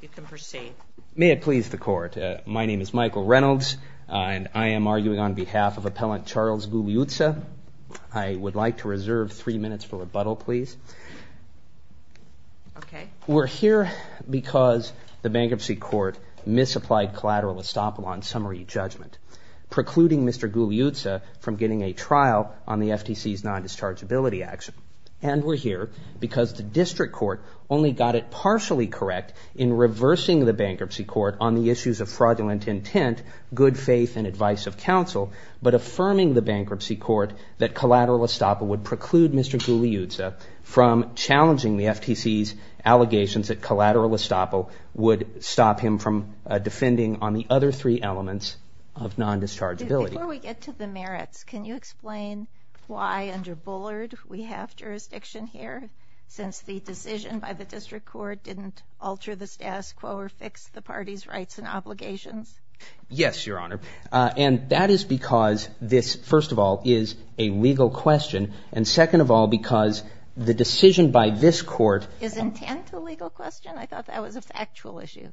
You can proceed. May it please the Court. My name is Michael Reynolds, and I am arguing on behalf of Appellant Charles Gugliuzza. I would like to reserve three minutes for rebuttal, please. We're here because the Bankruptcy Court misapplied collateral estoppel on summary judgment, precluding Mr. Gugliuzza from getting a trial on the FTC's non-dischargeability action. And we're here because the District Court only got it partially correct in reversing the Bankruptcy Court on the issues of fraudulent intent, good faith, and advice of counsel, but affirming the Bankruptcy Court that collateral estoppel would preclude Mr. Gugliuzza from challenging the FTC's allegations that collateral estoppel would stop him from defending on the other three elements of non-dischargeability. Before we get to the merits, can you explain why, under Bullard, we have jurisdiction here, since the decision by the District Court didn't alter the status quo or fix the party's rights and obligations? Yes, Your Honor, and that is because this, first of all, is a legal question, and second of all, because the decision by this Court — Is intent a legal question? I thought that was a factual issue.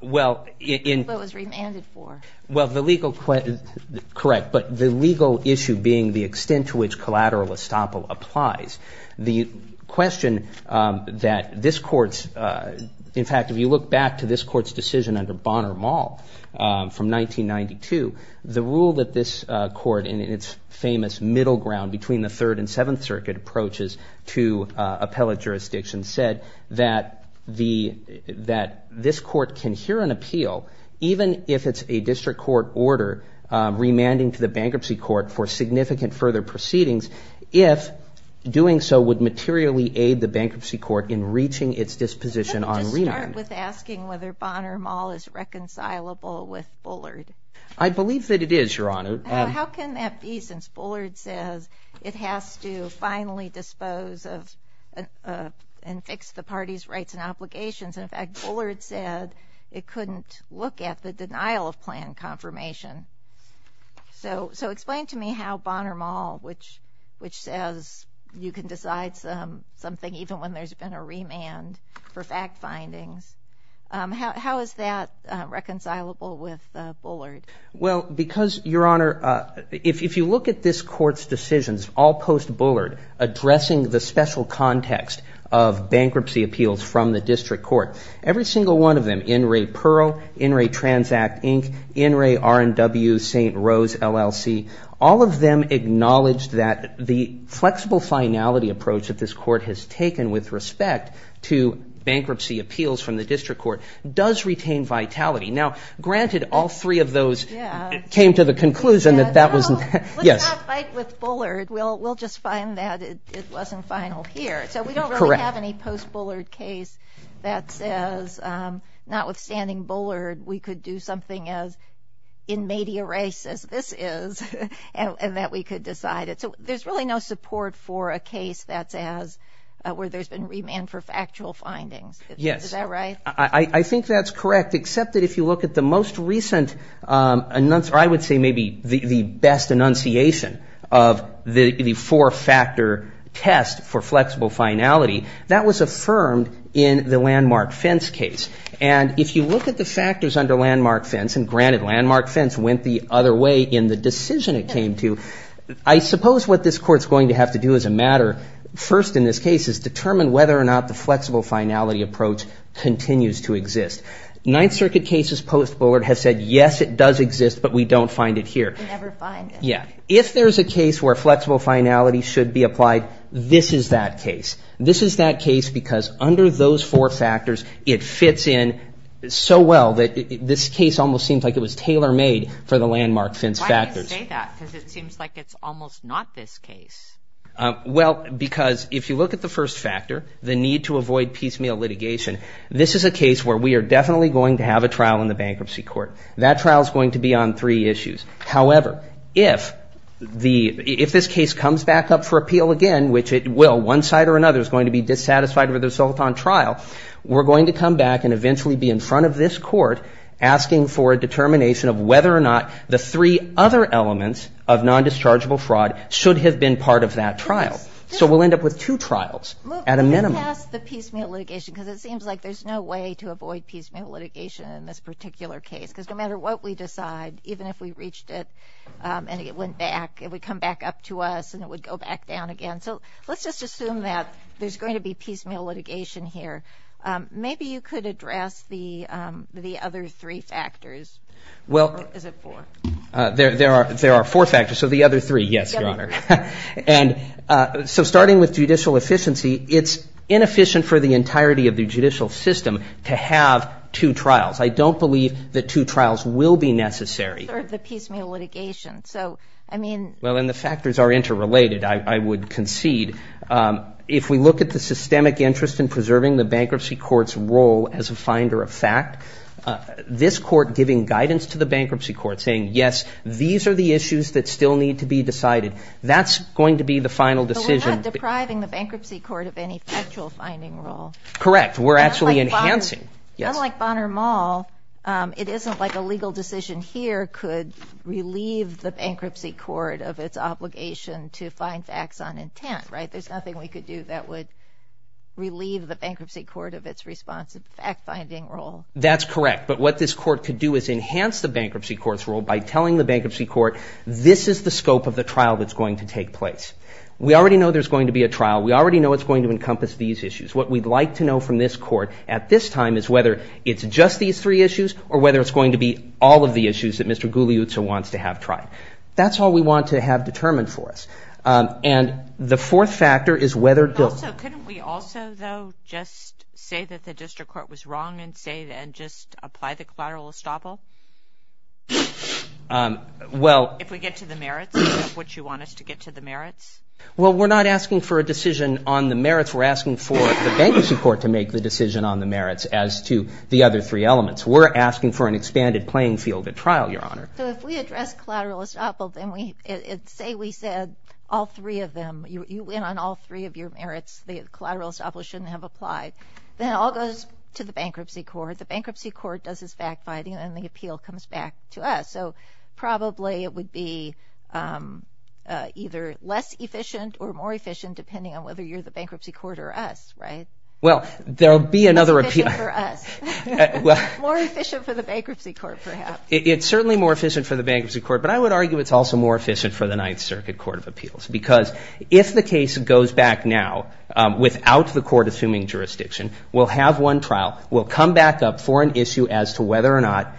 Well, in — What it was remanded for. Well, the legal — correct, but the legal issue being the extent to which collateral estoppel applies. The question that this Court's — in fact, if you look back to this Court's decision under Bonner-Mall from 1992, the rule that this Court, in its famous middle ground between the Third and Seventh Circuit approaches to appellate jurisdiction, said that the — that this Court can hear an appeal, even if it's a District Court order remanding to the Bankruptcy Court for significant further proceedings, if doing so would materially aid the Bankruptcy Court in reaching its disposition on remand. Can I just start with asking whether Bonner-Mall is reconcilable with Bullard? I believe that it is, Your Honor. How can that be, since Bullard says it has to finally dispose of and fix the party's rights and obligations? In fact, Bullard said it couldn't look at the denial of plan confirmation. So explain to me how Bonner-Mall, which says you can decide something even when there's been a remand for fact findings, how is that reconcilable with Bullard? Well, because, Your Honor, if you look at this Court's decisions, all post-Bullard, addressing the special context of bankruptcy appeals from the District Court, every single one of them, In re Perl, In re Transact, Inc., In re R&W, St. Rose, LLC, all of them acknowledged that the flexible finality approach that this Court has taken with respect to bankruptcy appeals from the District Court does retain vitality. Now, granted, all three of those came to the conclusion that that was, yes. Let's not fight with Bullard. We'll just find that it wasn't final here. So we don't really have any post-Bullard case that says, notwithstanding Bullard, we could do something as in media race as this is and that we could decide it. So there's really no support for a case that says where there's been remand for factual findings. Yes. Is that right? I think that's correct, except that if you look at the most recent, I would say maybe the best enunciation of the four-factor test for flexible finality, that was affirmed in the landmark fence case. And if you look at the factors under landmark fence, and granted landmark fence went the other way in the decision it came to, I suppose what this Court's going to have to do as a matter first in this case is determine whether or not the flexible finality approach continues to exist. Ninth Circuit cases post-Bullard have said, yes, it does exist, but we don't find it here. We never find it. Yeah. If there's a case where flexible finality should be applied, this is that case. This is that case because under those four factors, it fits in so well that this case almost seems like it was tailor-made for the landmark fence factors. Why do you say that? Because it seems like it's almost not this case. Well, because if you look at the first factor, the need to avoid piecemeal litigation, this is a case where we are definitely going to have a trial in the bankruptcy court. That trial is going to be on three issues. However, if this case comes back up for appeal again, which it will, one side or another is going to be dissatisfied with the result on trial, we're going to come back and eventually be in front of this court asking for a determination of whether or not the three other elements of nondischargeable fraud should have been part of that trial. So we'll end up with two trials at a minimum. Move past the piecemeal litigation because it seems like there's no way to avoid piecemeal litigation in this particular case because no matter what we decide, even if we reached it and it went back, it would come back up to us and it would go back down again. So let's just assume that there's going to be piecemeal litigation here. Maybe you could address the other three factors. Or is it four? There are four factors, so the other three, yes, Your Honor. And so starting with judicial efficiency, it's inefficient for the entirety of the judicial system to have two trials. I don't believe that two trials will be necessary. Or the piecemeal litigation. Well, and the factors are interrelated, I would concede. If we look at the systemic interest in preserving the bankruptcy court's role as a finder of fact, this court giving guidance to the bankruptcy court saying, yes, these are the issues that still need to be decided, that's going to be the final decision. But we're not depriving the bankruptcy court of any factual finding role. Correct. We're actually enhancing. Unlike Bonner Mall, it isn't like a legal decision here could relieve the bankruptcy court of its obligation to find facts on intent, right? So there's nothing we could do that would relieve the bankruptcy court of its responsive fact-finding role. That's correct. But what this court could do is enhance the bankruptcy court's role by telling the bankruptcy court, this is the scope of the trial that's going to take place. We already know there's going to be a trial. We already know it's going to encompass these issues. What we'd like to know from this court at this time is whether it's just these three issues or whether it's going to be all of the issues that Mr. Guglielmo wants to have tried. That's all we want to have determined for us. And the fourth factor is whether the- Also, couldn't we also, though, just say that the district court was wrong and just apply the collateral estoppel? Well- If we get to the merits, which you want us to get to the merits? Well, we're not asking for a decision on the merits. We're asking for the bankruptcy court to make the decision on the merits as to the other three elements. We're asking for an expanded playing field at trial, Your Honor. So if we address collateral estoppel and say we said all three of them, you went on all three of your merits, the collateral estoppel shouldn't have applied, then it all goes to the bankruptcy court. The bankruptcy court does its back fighting and the appeal comes back to us. So probably it would be either less efficient or more efficient, depending on whether you're the bankruptcy court or us, right? Well, there'll be another appeal- Less efficient for us. More efficient for the bankruptcy court, perhaps. It's certainly more efficient for the bankruptcy court, but I would argue it's also more efficient for the Ninth Circuit Court of Appeals because if the case goes back now without the court assuming jurisdiction, we'll have one trial, we'll come back up for an issue as to whether or not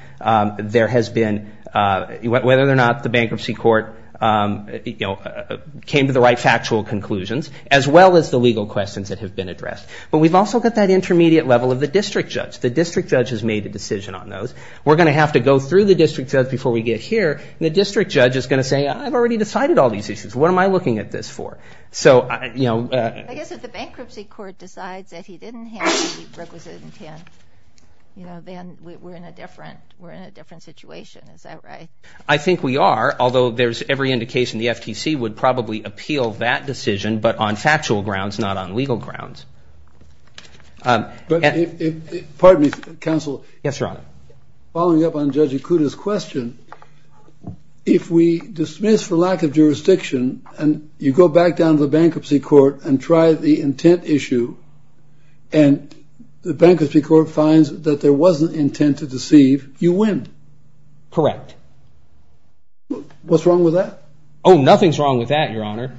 there has been- whether or not the bankruptcy court came to the right factual conclusions, as well as the legal questions that have been addressed. But we've also got that intermediate level of the district judge. The district judge has made a decision on those. We're going to have to go through the district judge before we get here, and the district judge is going to say, I've already decided all these issues. What am I looking at this for? So, you know- I guess if the bankruptcy court decides that he didn't have the requisite intent, you know, then we're in a different situation. Is that right? I think we are, although there's every indication the FTC would probably appeal that decision, but on factual grounds, not on legal grounds. Pardon me, counsel. Yes, Your Honor. Following up on Judge Ikuda's question, if we dismiss for lack of jurisdiction and you go back down to the bankruptcy court and try the intent issue and the bankruptcy court finds that there was an intent to deceive, you win. Correct. What's wrong with that? Oh, nothing's wrong with that, Your Honor.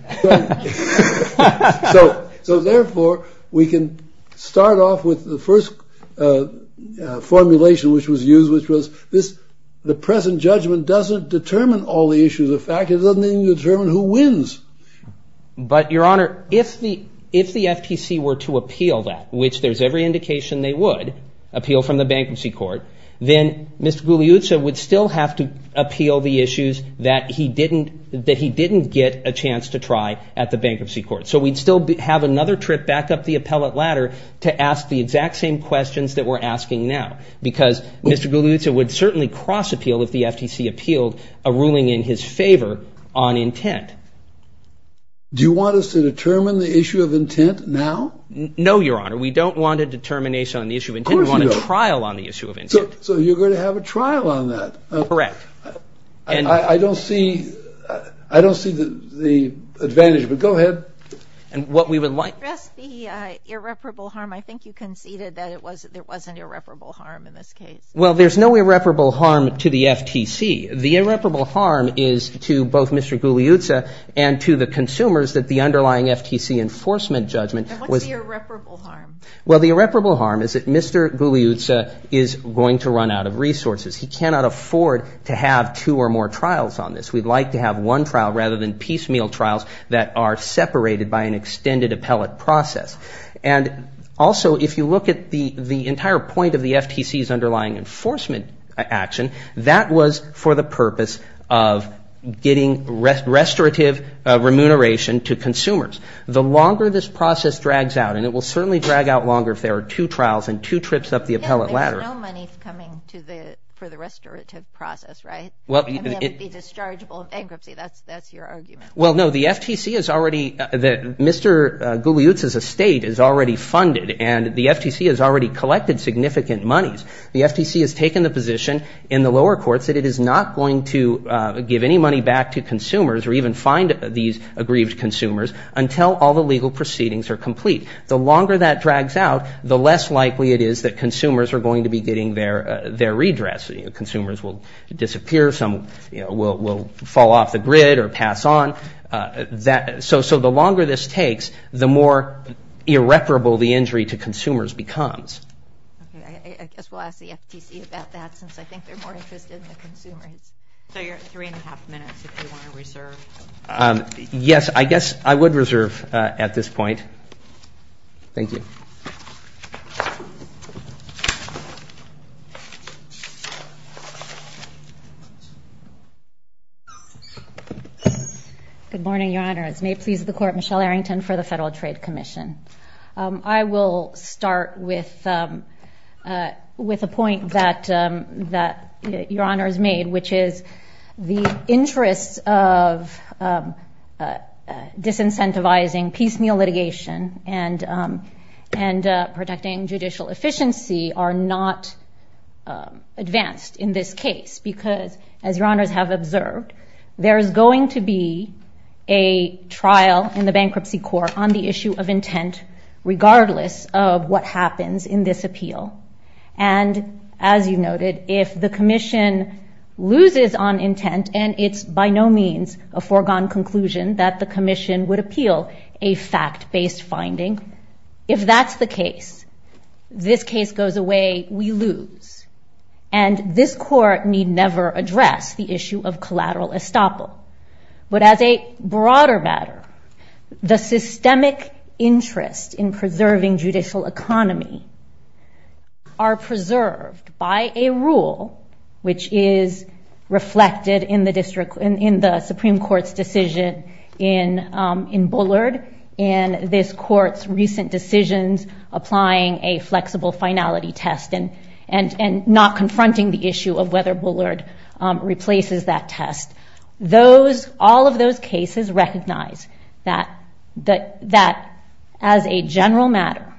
So, therefore, we can start off with the first formulation which was used, which was the present judgment doesn't determine all the issues. In fact, it doesn't even determine who wins. But, Your Honor, if the FTC were to appeal that, which there's every indication they would appeal from the bankruptcy court, then Mr. Gugliuzza would still have to appeal the issues that he didn't get a chance to try at the bankruptcy court. So we'd still have another trip back up the appellate ladder to ask the exact same questions that we're asking now because Mr. Gugliuzza would certainly cross-appeal if the FTC appealed a ruling in his favor on intent. Do you want us to determine the issue of intent now? No, Your Honor. We don't want a determination on the issue of intent. Of course you don't. We want a trial on the issue of intent. So you're going to have a trial on that. Correct. I don't see the advantage, but go ahead. And what we would like— Can you address the irreparable harm? I think you conceded that there was an irreparable harm in this case. Well, there's no irreparable harm to the FTC. The irreparable harm is to both Mr. Gugliuzza and to the consumers that the underlying FTC enforcement judgment was— And what's the irreparable harm? Well, the irreparable harm is that Mr. Gugliuzza is going to run out of resources. He cannot afford to have two or more trials on this. We'd like to have one trial rather than piecemeal trials that are separated by an extended appellate process. And also, if you look at the entire point of the FTC's underlying enforcement action, that was for the purpose of getting restorative remuneration to consumers. The longer this process drags out, and it will certainly drag out longer if there are two trials and two trips up the appellate ladder. But there's no money coming for the restorative process, right? I mean, it would be dischargeable in bankruptcy. That's your argument. Well, no. The FTC is already—Mr. Gugliuzza's estate is already funded, and the FTC has already collected significant monies. The FTC has taken the position in the lower courts that it is not going to give any money back to consumers or even fine these aggrieved consumers until all the legal proceedings are complete. The longer that drags out, the less likely it is that consumers are going to be getting their redress. Consumers will disappear. Some will fall off the grid or pass on. So the longer this takes, the more irreparable the injury to consumers becomes. Okay. I guess we'll ask the FTC about that since I think they're more interested in the consumers. So you're at three and a half minutes if you want to reserve. Yes, I guess I would reserve at this point. Thank you. Good morning, Your Honors. May it please the Court, Michelle Arrington for the Federal Trade Commission. I will start with a point that Your Honors made, which is the interests of disincentivizing piecemeal litigation and protecting judicial efficiency are not advanced in this case because, as Your Honors have observed, there is going to be a trial in the bankruptcy court on the issue of intent regardless of what happens in this appeal. And as you noted, if the Commission loses on intent and it's by no means a foregone conclusion that the Commission would appeal a fact-based finding, if that's the case, this case goes away, we lose. And this Court need never address the issue of collateral estoppel. But as a broader matter, the systemic interest in preserving judicial economy are preserved by a rule which is reflected in the Supreme Court's decision in Bullard and this Court's recent decisions applying a flexible finality test and not confronting the issue of whether Bullard replaces that test. All of those cases recognize that, as a general matter,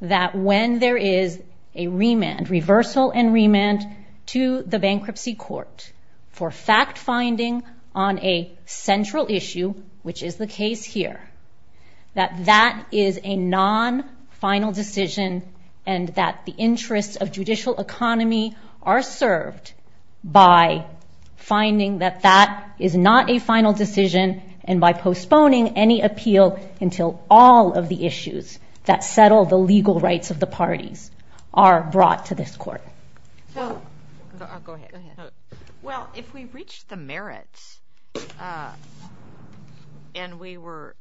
that when there is a remand, reversal and remand, to the bankruptcy court for fact-finding on a central issue, which is the case here, that that is a non-final decision and that the interests of judicial economy are served by finding that that is not a final decision and by postponing any appeal until all of the issues that settle the legal rights of the parties are brought to this Court. Go ahead. Well, if we reach the merits, and we were,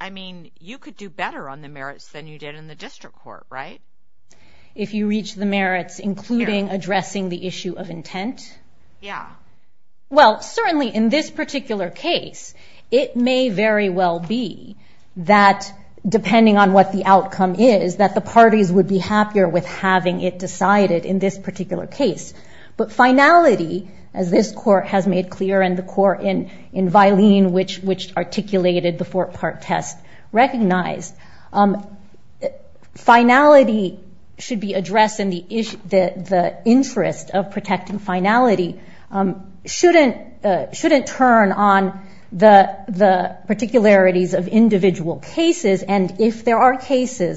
I mean, you could do better on the merits than you did in the district court, right? If you reach the merits, including addressing the issue of intent? Yeah. Well, certainly in this particular case, it may very well be that, depending on what the outcome is, that the parties would be happier with having it decided in this particular case. But finality, as this Court has made clear and the Court in Vilene, which articulated the four-part test, recognized, finality should be addressed in the interest of protecting finality shouldn't turn on the particularities of individual cases. And if there are cases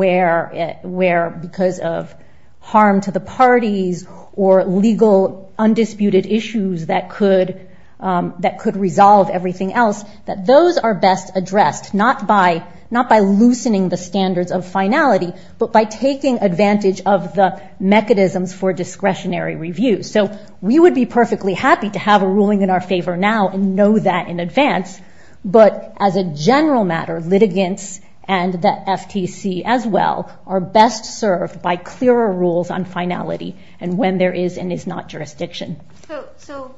where, because of harm to the parties or legal undisputed issues that could resolve everything else, that those are best addressed, not by loosening the standards of finality, but by taking advantage of the mechanisms for discretionary review. So we would be perfectly happy to have a ruling in our favor now and know that in advance. But as a general matter, litigants and the FTC as well are best served by clearer rules on finality and when there is and is not jurisdiction. So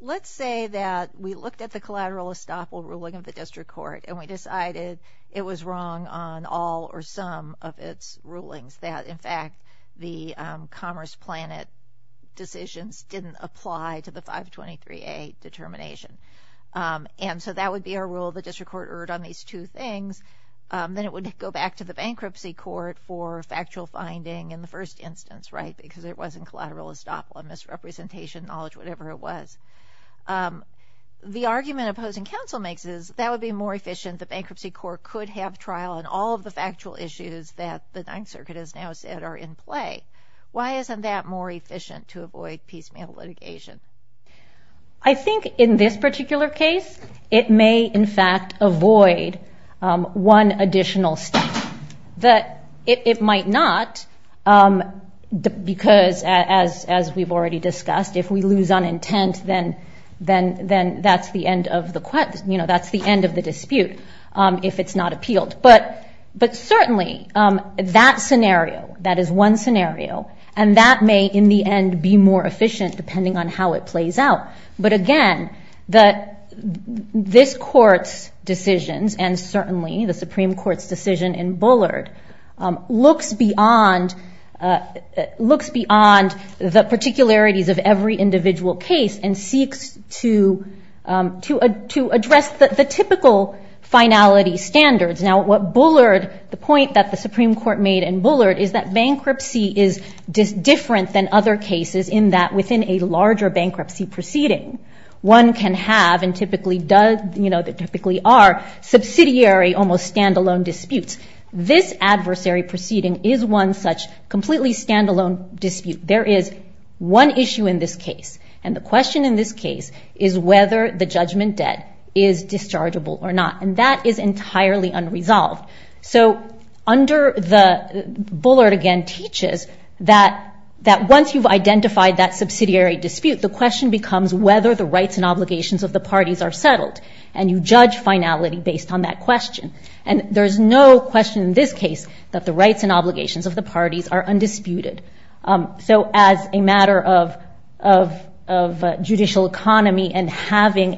let's say that we looked at the collateral estoppel ruling of the district court and we decided it was wrong on all or some of its rulings, that, in fact, the Commerce Planet decisions didn't apply to the 523A determination. And so that would be our rule. The district court erred on these two things. Then it would go back to the bankruptcy court for factual finding in the first instance, right, because it wasn't collateral estoppel, misrepresentation, knowledge, whatever it was. The argument opposing counsel makes is that would be more efficient. The bankruptcy court could have trial on all of the factual issues that the Ninth Circuit has now said are in play. Why isn't that more efficient to avoid piecemeal litigation? I think in this particular case it may, in fact, avoid one additional step. It might not because, as we've already discussed, if we lose on intent, then that's the end of the dispute if it's not appealed. But certainly that scenario, that is one scenario, and that may in the end be more efficient depending on how it plays out. But, again, this Court's decisions and certainly the Supreme Court's decision in Bullard looks beyond the particularities of every individual case and seeks to address the typical finality standards. Now, what Bullard, the point that the Supreme Court made in Bullard is that bankruptcy is different than other cases in that within a larger bankruptcy proceeding, one can have and typically does, you know, typically are subsidiary almost stand-alone disputes. This adversary proceeding is one such completely stand-alone dispute. There is one issue in this case, and the question in this case is whether the judgment debt is dischargeable or not, and that is entirely unresolved. So under the Bullard, again, teaches that once you've identified that subsidiary dispute, the question becomes whether the rights and obligations of the parties are settled, and you judge finality based on that question. And there is no question in this case that the rights and obligations of the parties are undisputed. So as a matter of judicial economy and having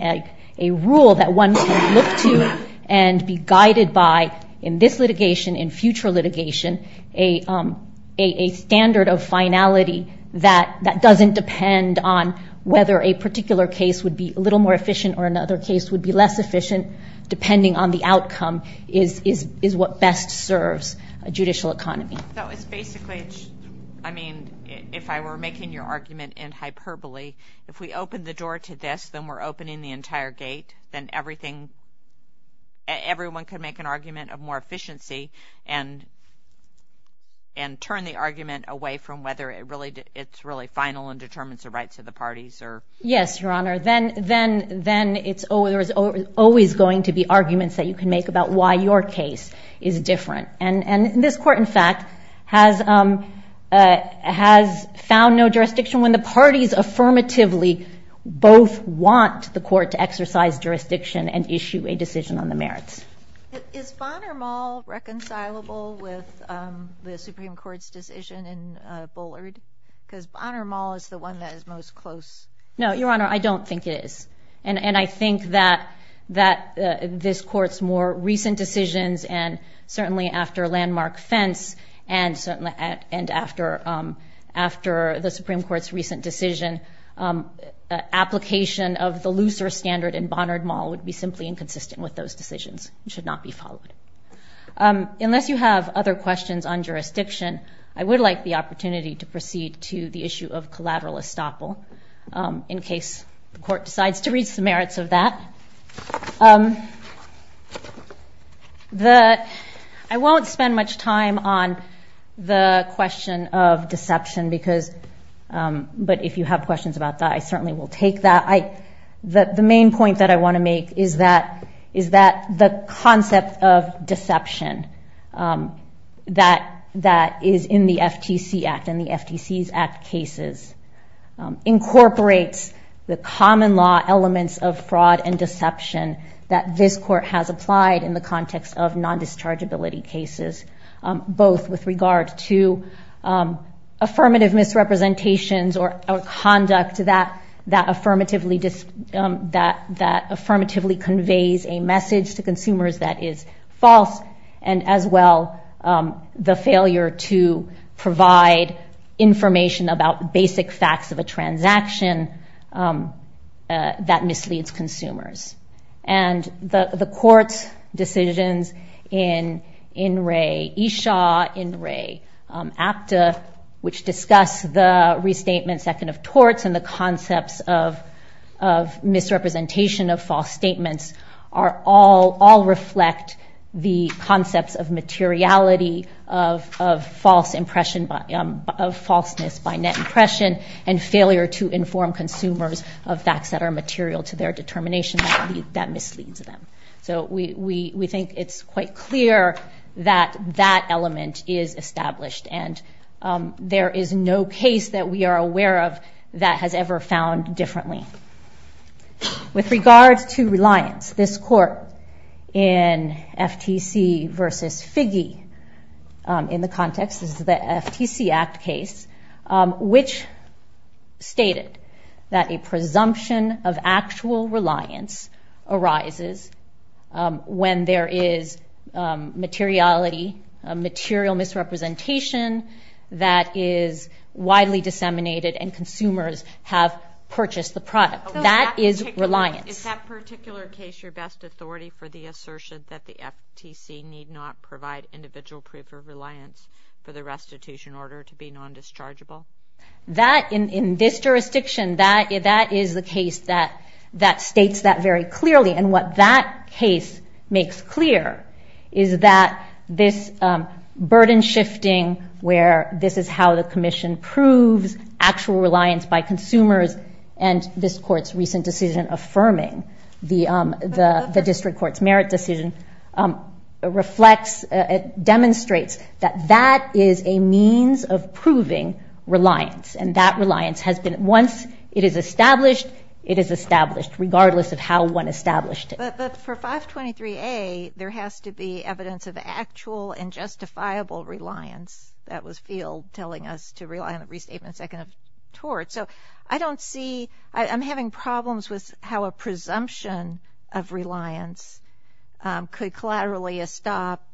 a rule that one can look to and be guided by in this litigation, in future litigation, a standard of finality that doesn't depend on whether a particular case would be a little more efficient or another case would be less efficient, depending on the outcome, is what best serves a judicial economy. So it's basically, I mean, if I were making your argument in hyperbole, if we open the door to this, then we're opening the entire gate, then everyone could make an argument of more efficiency and turn the argument away from whether it's really final and determines the rights of the parties. Yes, Your Honor. Then there is always going to be arguments that you can make about why your case is different. And this Court, in fact, has found no jurisdiction. When the parties affirmatively both want the court to exercise jurisdiction and issue a decision on the merits. Is Bonner Mall reconcilable with the Supreme Court's decision in Bullard? Because Bonner Mall is the one that is most close. No, Your Honor, I don't think it is. And I think that this Court's more recent decisions and certainly after Landmark Fence and after the Supreme Court's recent decision, application of the looser standard in Bonner Mall would be simply inconsistent with those decisions. It should not be followed. Unless you have other questions on jurisdiction, I would like the opportunity to proceed to the issue of collateral estoppel in case the Court decides to reach the merits of that. I won't spend much time on the question of deception, but if you have questions about that, I certainly will take that. The main point that I want to make is that the concept of deception that is in the FTC Act and the FTC's Act cases incorporates the common law elements of fraud and deception that this Court has applied in the context of non-dischargeability cases, both with regard to affirmative misrepresentations or conduct that affirmatively conveys a message to consumers that is false and as well the failure to provide information about basic facts of a transaction that misleads consumers. And the Court's decisions in In Re Isha, In Re Apta, which discuss the restatement second of torts and the concepts of misrepresentation of false statements all reflect the concepts of materiality of falseness by net impression and failure to inform consumers of facts that are material to their determination that misleads them. So we think it's quite clear that that element is established and there is no case that we are aware of that has ever found differently. With regards to reliance, this Court in FTC v. Figge, in the context of the FTC Act case, which stated that a presumption of actual reliance arises when there is materiality, material misrepresentation that is widely disseminated and consumers have purchased the product. That is reliance. Is that particular case your best authority for the assertion that the FTC need not provide individual proof of reliance for the restitution order to be non-dischargeable? In this jurisdiction, that is the case that states that very clearly. And what that case makes clear is that this burden-shifting where this is how the Commission proves actual reliance by consumers and this Court's recent decision affirming the district court's merit decision demonstrates that that is a means of proving reliance. And that reliance has been, once it is established, regardless of how one established it. But for 523A, there has to be evidence of actual and justifiable reliance. That was Field telling us to rely on the restatement second of tort. So I don't see, I'm having problems with how a presumption of reliance could collaterally stop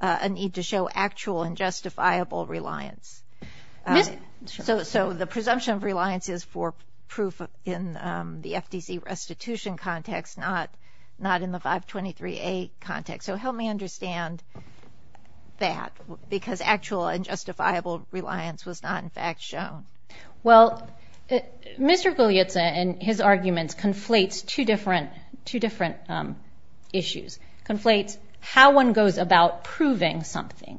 a need to show actual and justifiable reliance. So the presumption of reliance is for proof in the FTC restitution context, not in the 523A context. So help me understand that, because actual and justifiable reliance was not in fact shown. Well, Mr. Guglielmo and his arguments conflate two different issues. Conflates how one goes about proving something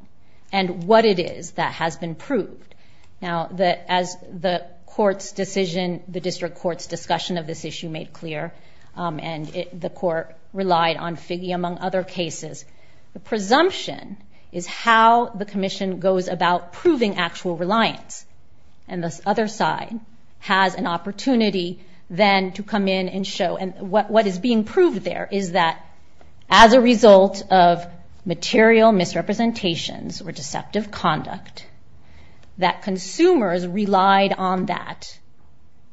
and what it is that has been proved. Now, as the court's decision, the district court's discussion of this issue made clear, and the court relied on Figge among other cases, the presumption is how the Commission goes about proving actual reliance. And this other side has an opportunity then to come in and show. And what is being proved there is that, as a result of material misrepresentations or deceptive conduct, that consumers relied on that,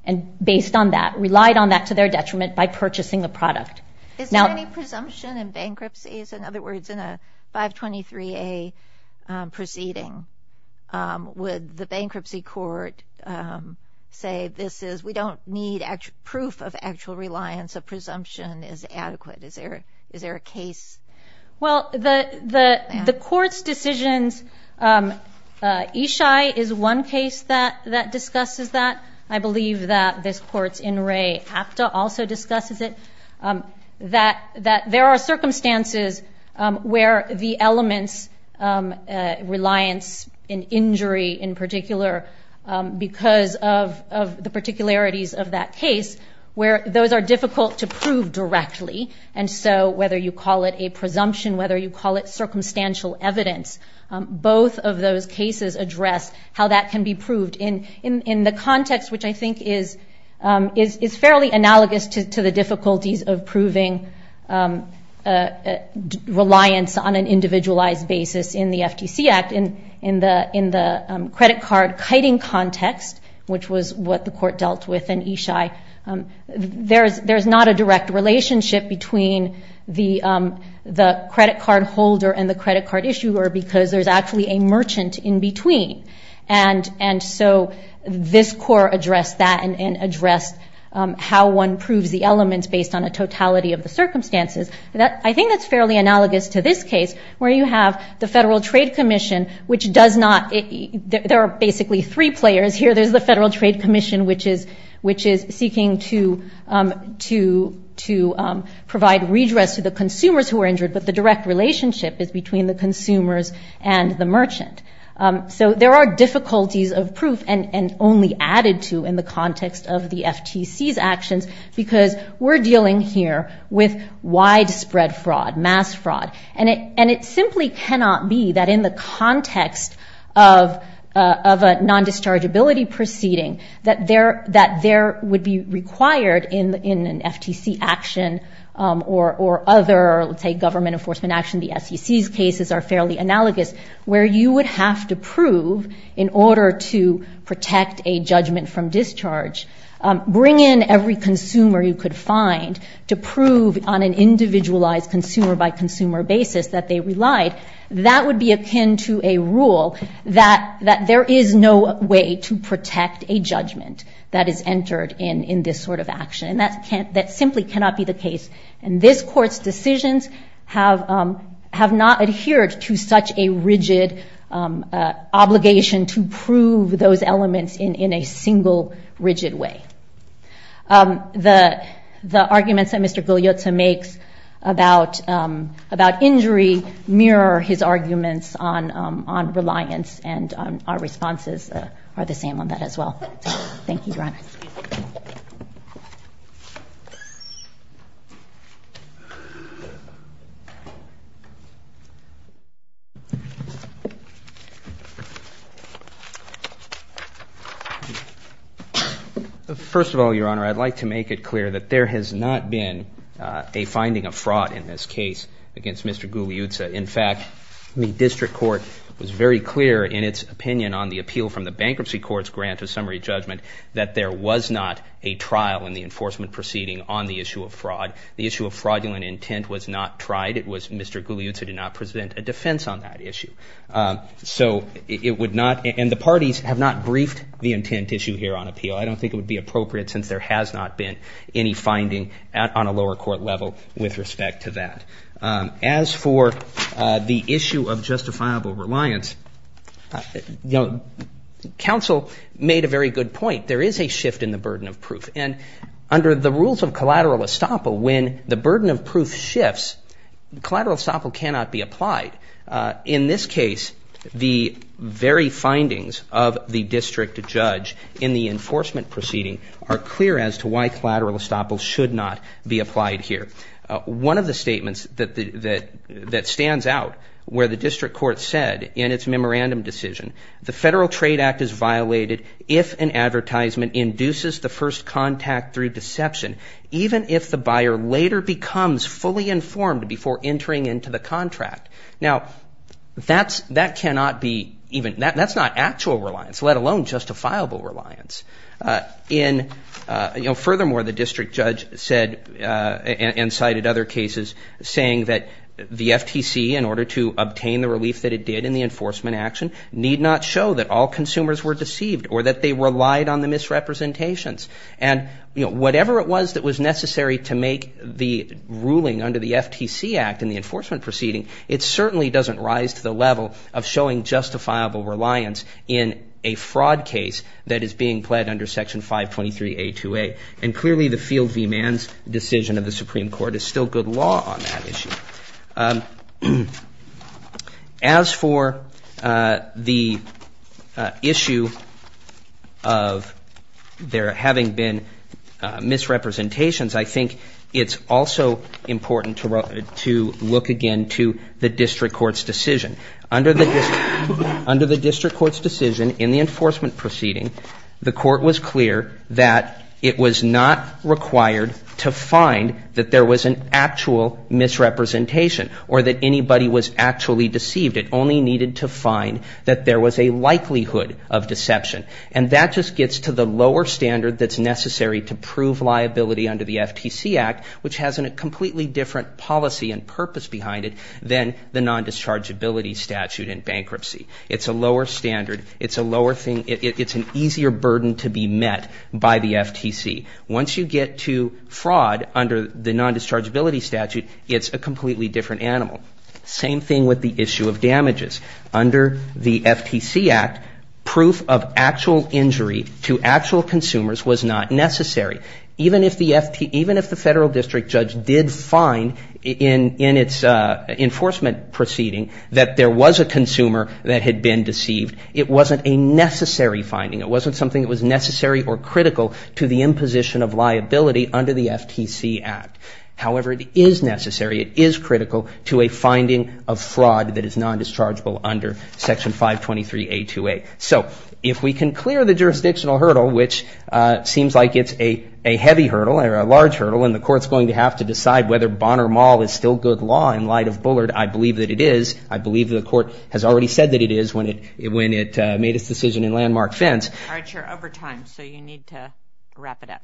and based on that, relied on that to their detriment by purchasing the product. Is there any presumption in bankruptcies? In other words, in a 523A proceeding, would the bankruptcy court say this is, we don't need proof of actual reliance, a presumption is adequate? Is there a case? Well, the court's decisions, Ishai is one case that discusses that. I believe that this court's Inrei Hapta also discusses it, that there are circumstances where the elements, reliance and injury in particular, because of the particularities of that case, where those are difficult to prove directly. And so whether you call it a presumption, whether you call it circumstantial evidence, both of those cases address how that can be proved. In the context which I think is fairly analogous to the difficulties of proving reliance on an individualized basis in the FTC Act, in the credit card kiting context, which was what the court dealt with in Ishai, there's not a direct relationship between the credit card holder and the credit card issuer, because there's actually a merchant in between. And so this court addressed that and addressed how one proves the elements based on a totality of the circumstances. I think that's fairly analogous to this case, where you have the Federal Trade Commission, which does not, there are basically three players here. There's the Federal Trade Commission, which is seeking to provide redress to the consumers who are injured, but the direct relationship is between the consumers and the merchant. So there are difficulties of proof, and only added to in the context of the FTC's actions, because we're dealing here with widespread fraud, mass fraud. And it simply cannot be that in the context of a non-dischargeability proceeding, that there would be required in an FTC action or other, let's say, government enforcement action, the SEC's cases are fairly analogous, where you would have to prove, in order to protect a judgment from discharge, bring in every consumer you could find to prove on an individualized consumer-by-consumer basis that they relied, that would be akin to a rule that there is no way to protect a judgment that is entered in this sort of action. And that simply cannot be the case. And this Court's decisions have not adhered to such a rigid obligation to prove those elements in a single, rigid way. The arguments that Mr. Guglielmo makes about injury mirror his arguments on reliance, and our responses are the same on that as well. Thank you, Your Honor. Excuse me. First of all, Your Honor, I'd like to make it clear that there has not been a finding of fraud in this case against Mr. Guglielmo. In fact, the District Court was very clear in its opinion on the appeal from the Bankruptcy Court's grant to summary judgment that there was not a trial in the enforcement proceeding on the issue of fraud. The issue of fraudulent intent was not tried. It was Mr. Guglielmo who did not present a defense on that issue. So it would not... And the parties have not briefed the intent issue here on appeal. I don't think it would be appropriate since there has not been any finding on a lower court level with respect to that. As for the issue of justifiable reliance, you know, counsel made a very good point. There is a shift in the burden of proof. And under the rules of collateral estoppel, when the burden of proof shifts, collateral estoppel cannot be applied. In this case, the very findings of the district judge in the enforcement proceeding are clear as to why collateral estoppel should not be applied here. One of the statements that stands out where the district court said in its memorandum decision, the Federal Trade Act is violated if an advertisement induces the first contact through deception, even if the buyer later becomes fully informed before entering into the contract. Now, that cannot be even... That's not actual reliance, let alone justifiable reliance. In... You know, furthermore, the district judge said and cited other cases saying that the FTC, in order to obtain the relief that it did in the enforcement action, need not show that all consumers were deceived or that they relied on the misrepresentations. And, you know, whatever it was that was necessary to make the ruling under the FTC Act in the enforcement proceeding, it certainly doesn't rise to the level of showing justifiable reliance in a fraud case that is being pled under Section 523A2A. And clearly, the Field v. Manns decision of the Supreme Court is still good law on that issue. As for the issue of there having been misrepresentations, I think it's also important to look again to the district court's decision. Under the district court's decision in the enforcement proceeding, the court was clear that it was not required to find that there was an actual misrepresentation or that anybody was actually deceived. It only needed to find that there was a likelihood of deception. And that just gets to the lower standard that's necessary to prove liability under the FTC Act, which has a completely different policy and purpose behind it than the nondischargeability statute in bankruptcy. It's a lower standard. It's a lower thing. It's an easier burden to be met by the FTC. Once you get to fraud under the nondischargeability statute, it's a completely different animal. Same thing with the issue of damages. Under the FTC Act, proof of actual injury to actual consumers was not necessary. Even if the federal district judge did find in its enforcement proceeding that there was a consumer that had been deceived, it wasn't a necessary finding. It wasn't something that was necessary or critical to the imposition of liability under the FTC Act. However, it is necessary, it is critical, to a finding of fraud that is nondischargeable under Section 523A2A. So if we can clear the jurisdictional hurdle, which seems like it's a heavy hurdle or a large hurdle, and the Court's going to have to decide whether Bonner Mall is still good law in light of Bullard, I believe that it is. I believe the Court has already said that it is when it made its decision in Landmark Fence. All right, you're over time, so you need to wrap it up.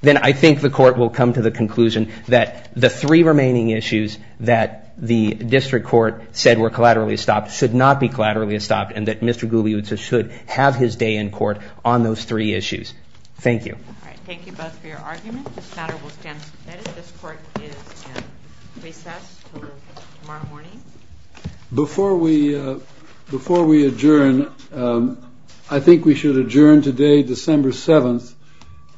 Then I think the Court will come to the conclusion that the three remaining issues that the district court said were collaterally estopped should not be collaterally estopped and that Mr. Guglielmo should have his day in court on those three issues. Thank you. All right, thank you both for your argument. This matter will stand as it is. This Court is in recess until tomorrow morning. Before we adjourn, I think we should adjourn today, December 7th,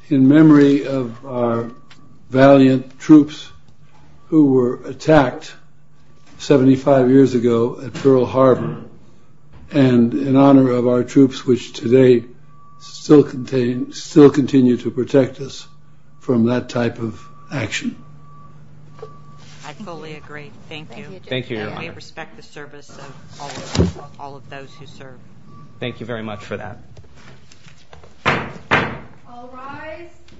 in memory of our valiant troops who were attacked 75 years ago at Pearl Harbor and in honor of our troops, which today still continue to protect us from that type of action. I fully agree. Thank you. We respect the service of all of those who serve. Thank you very much for that.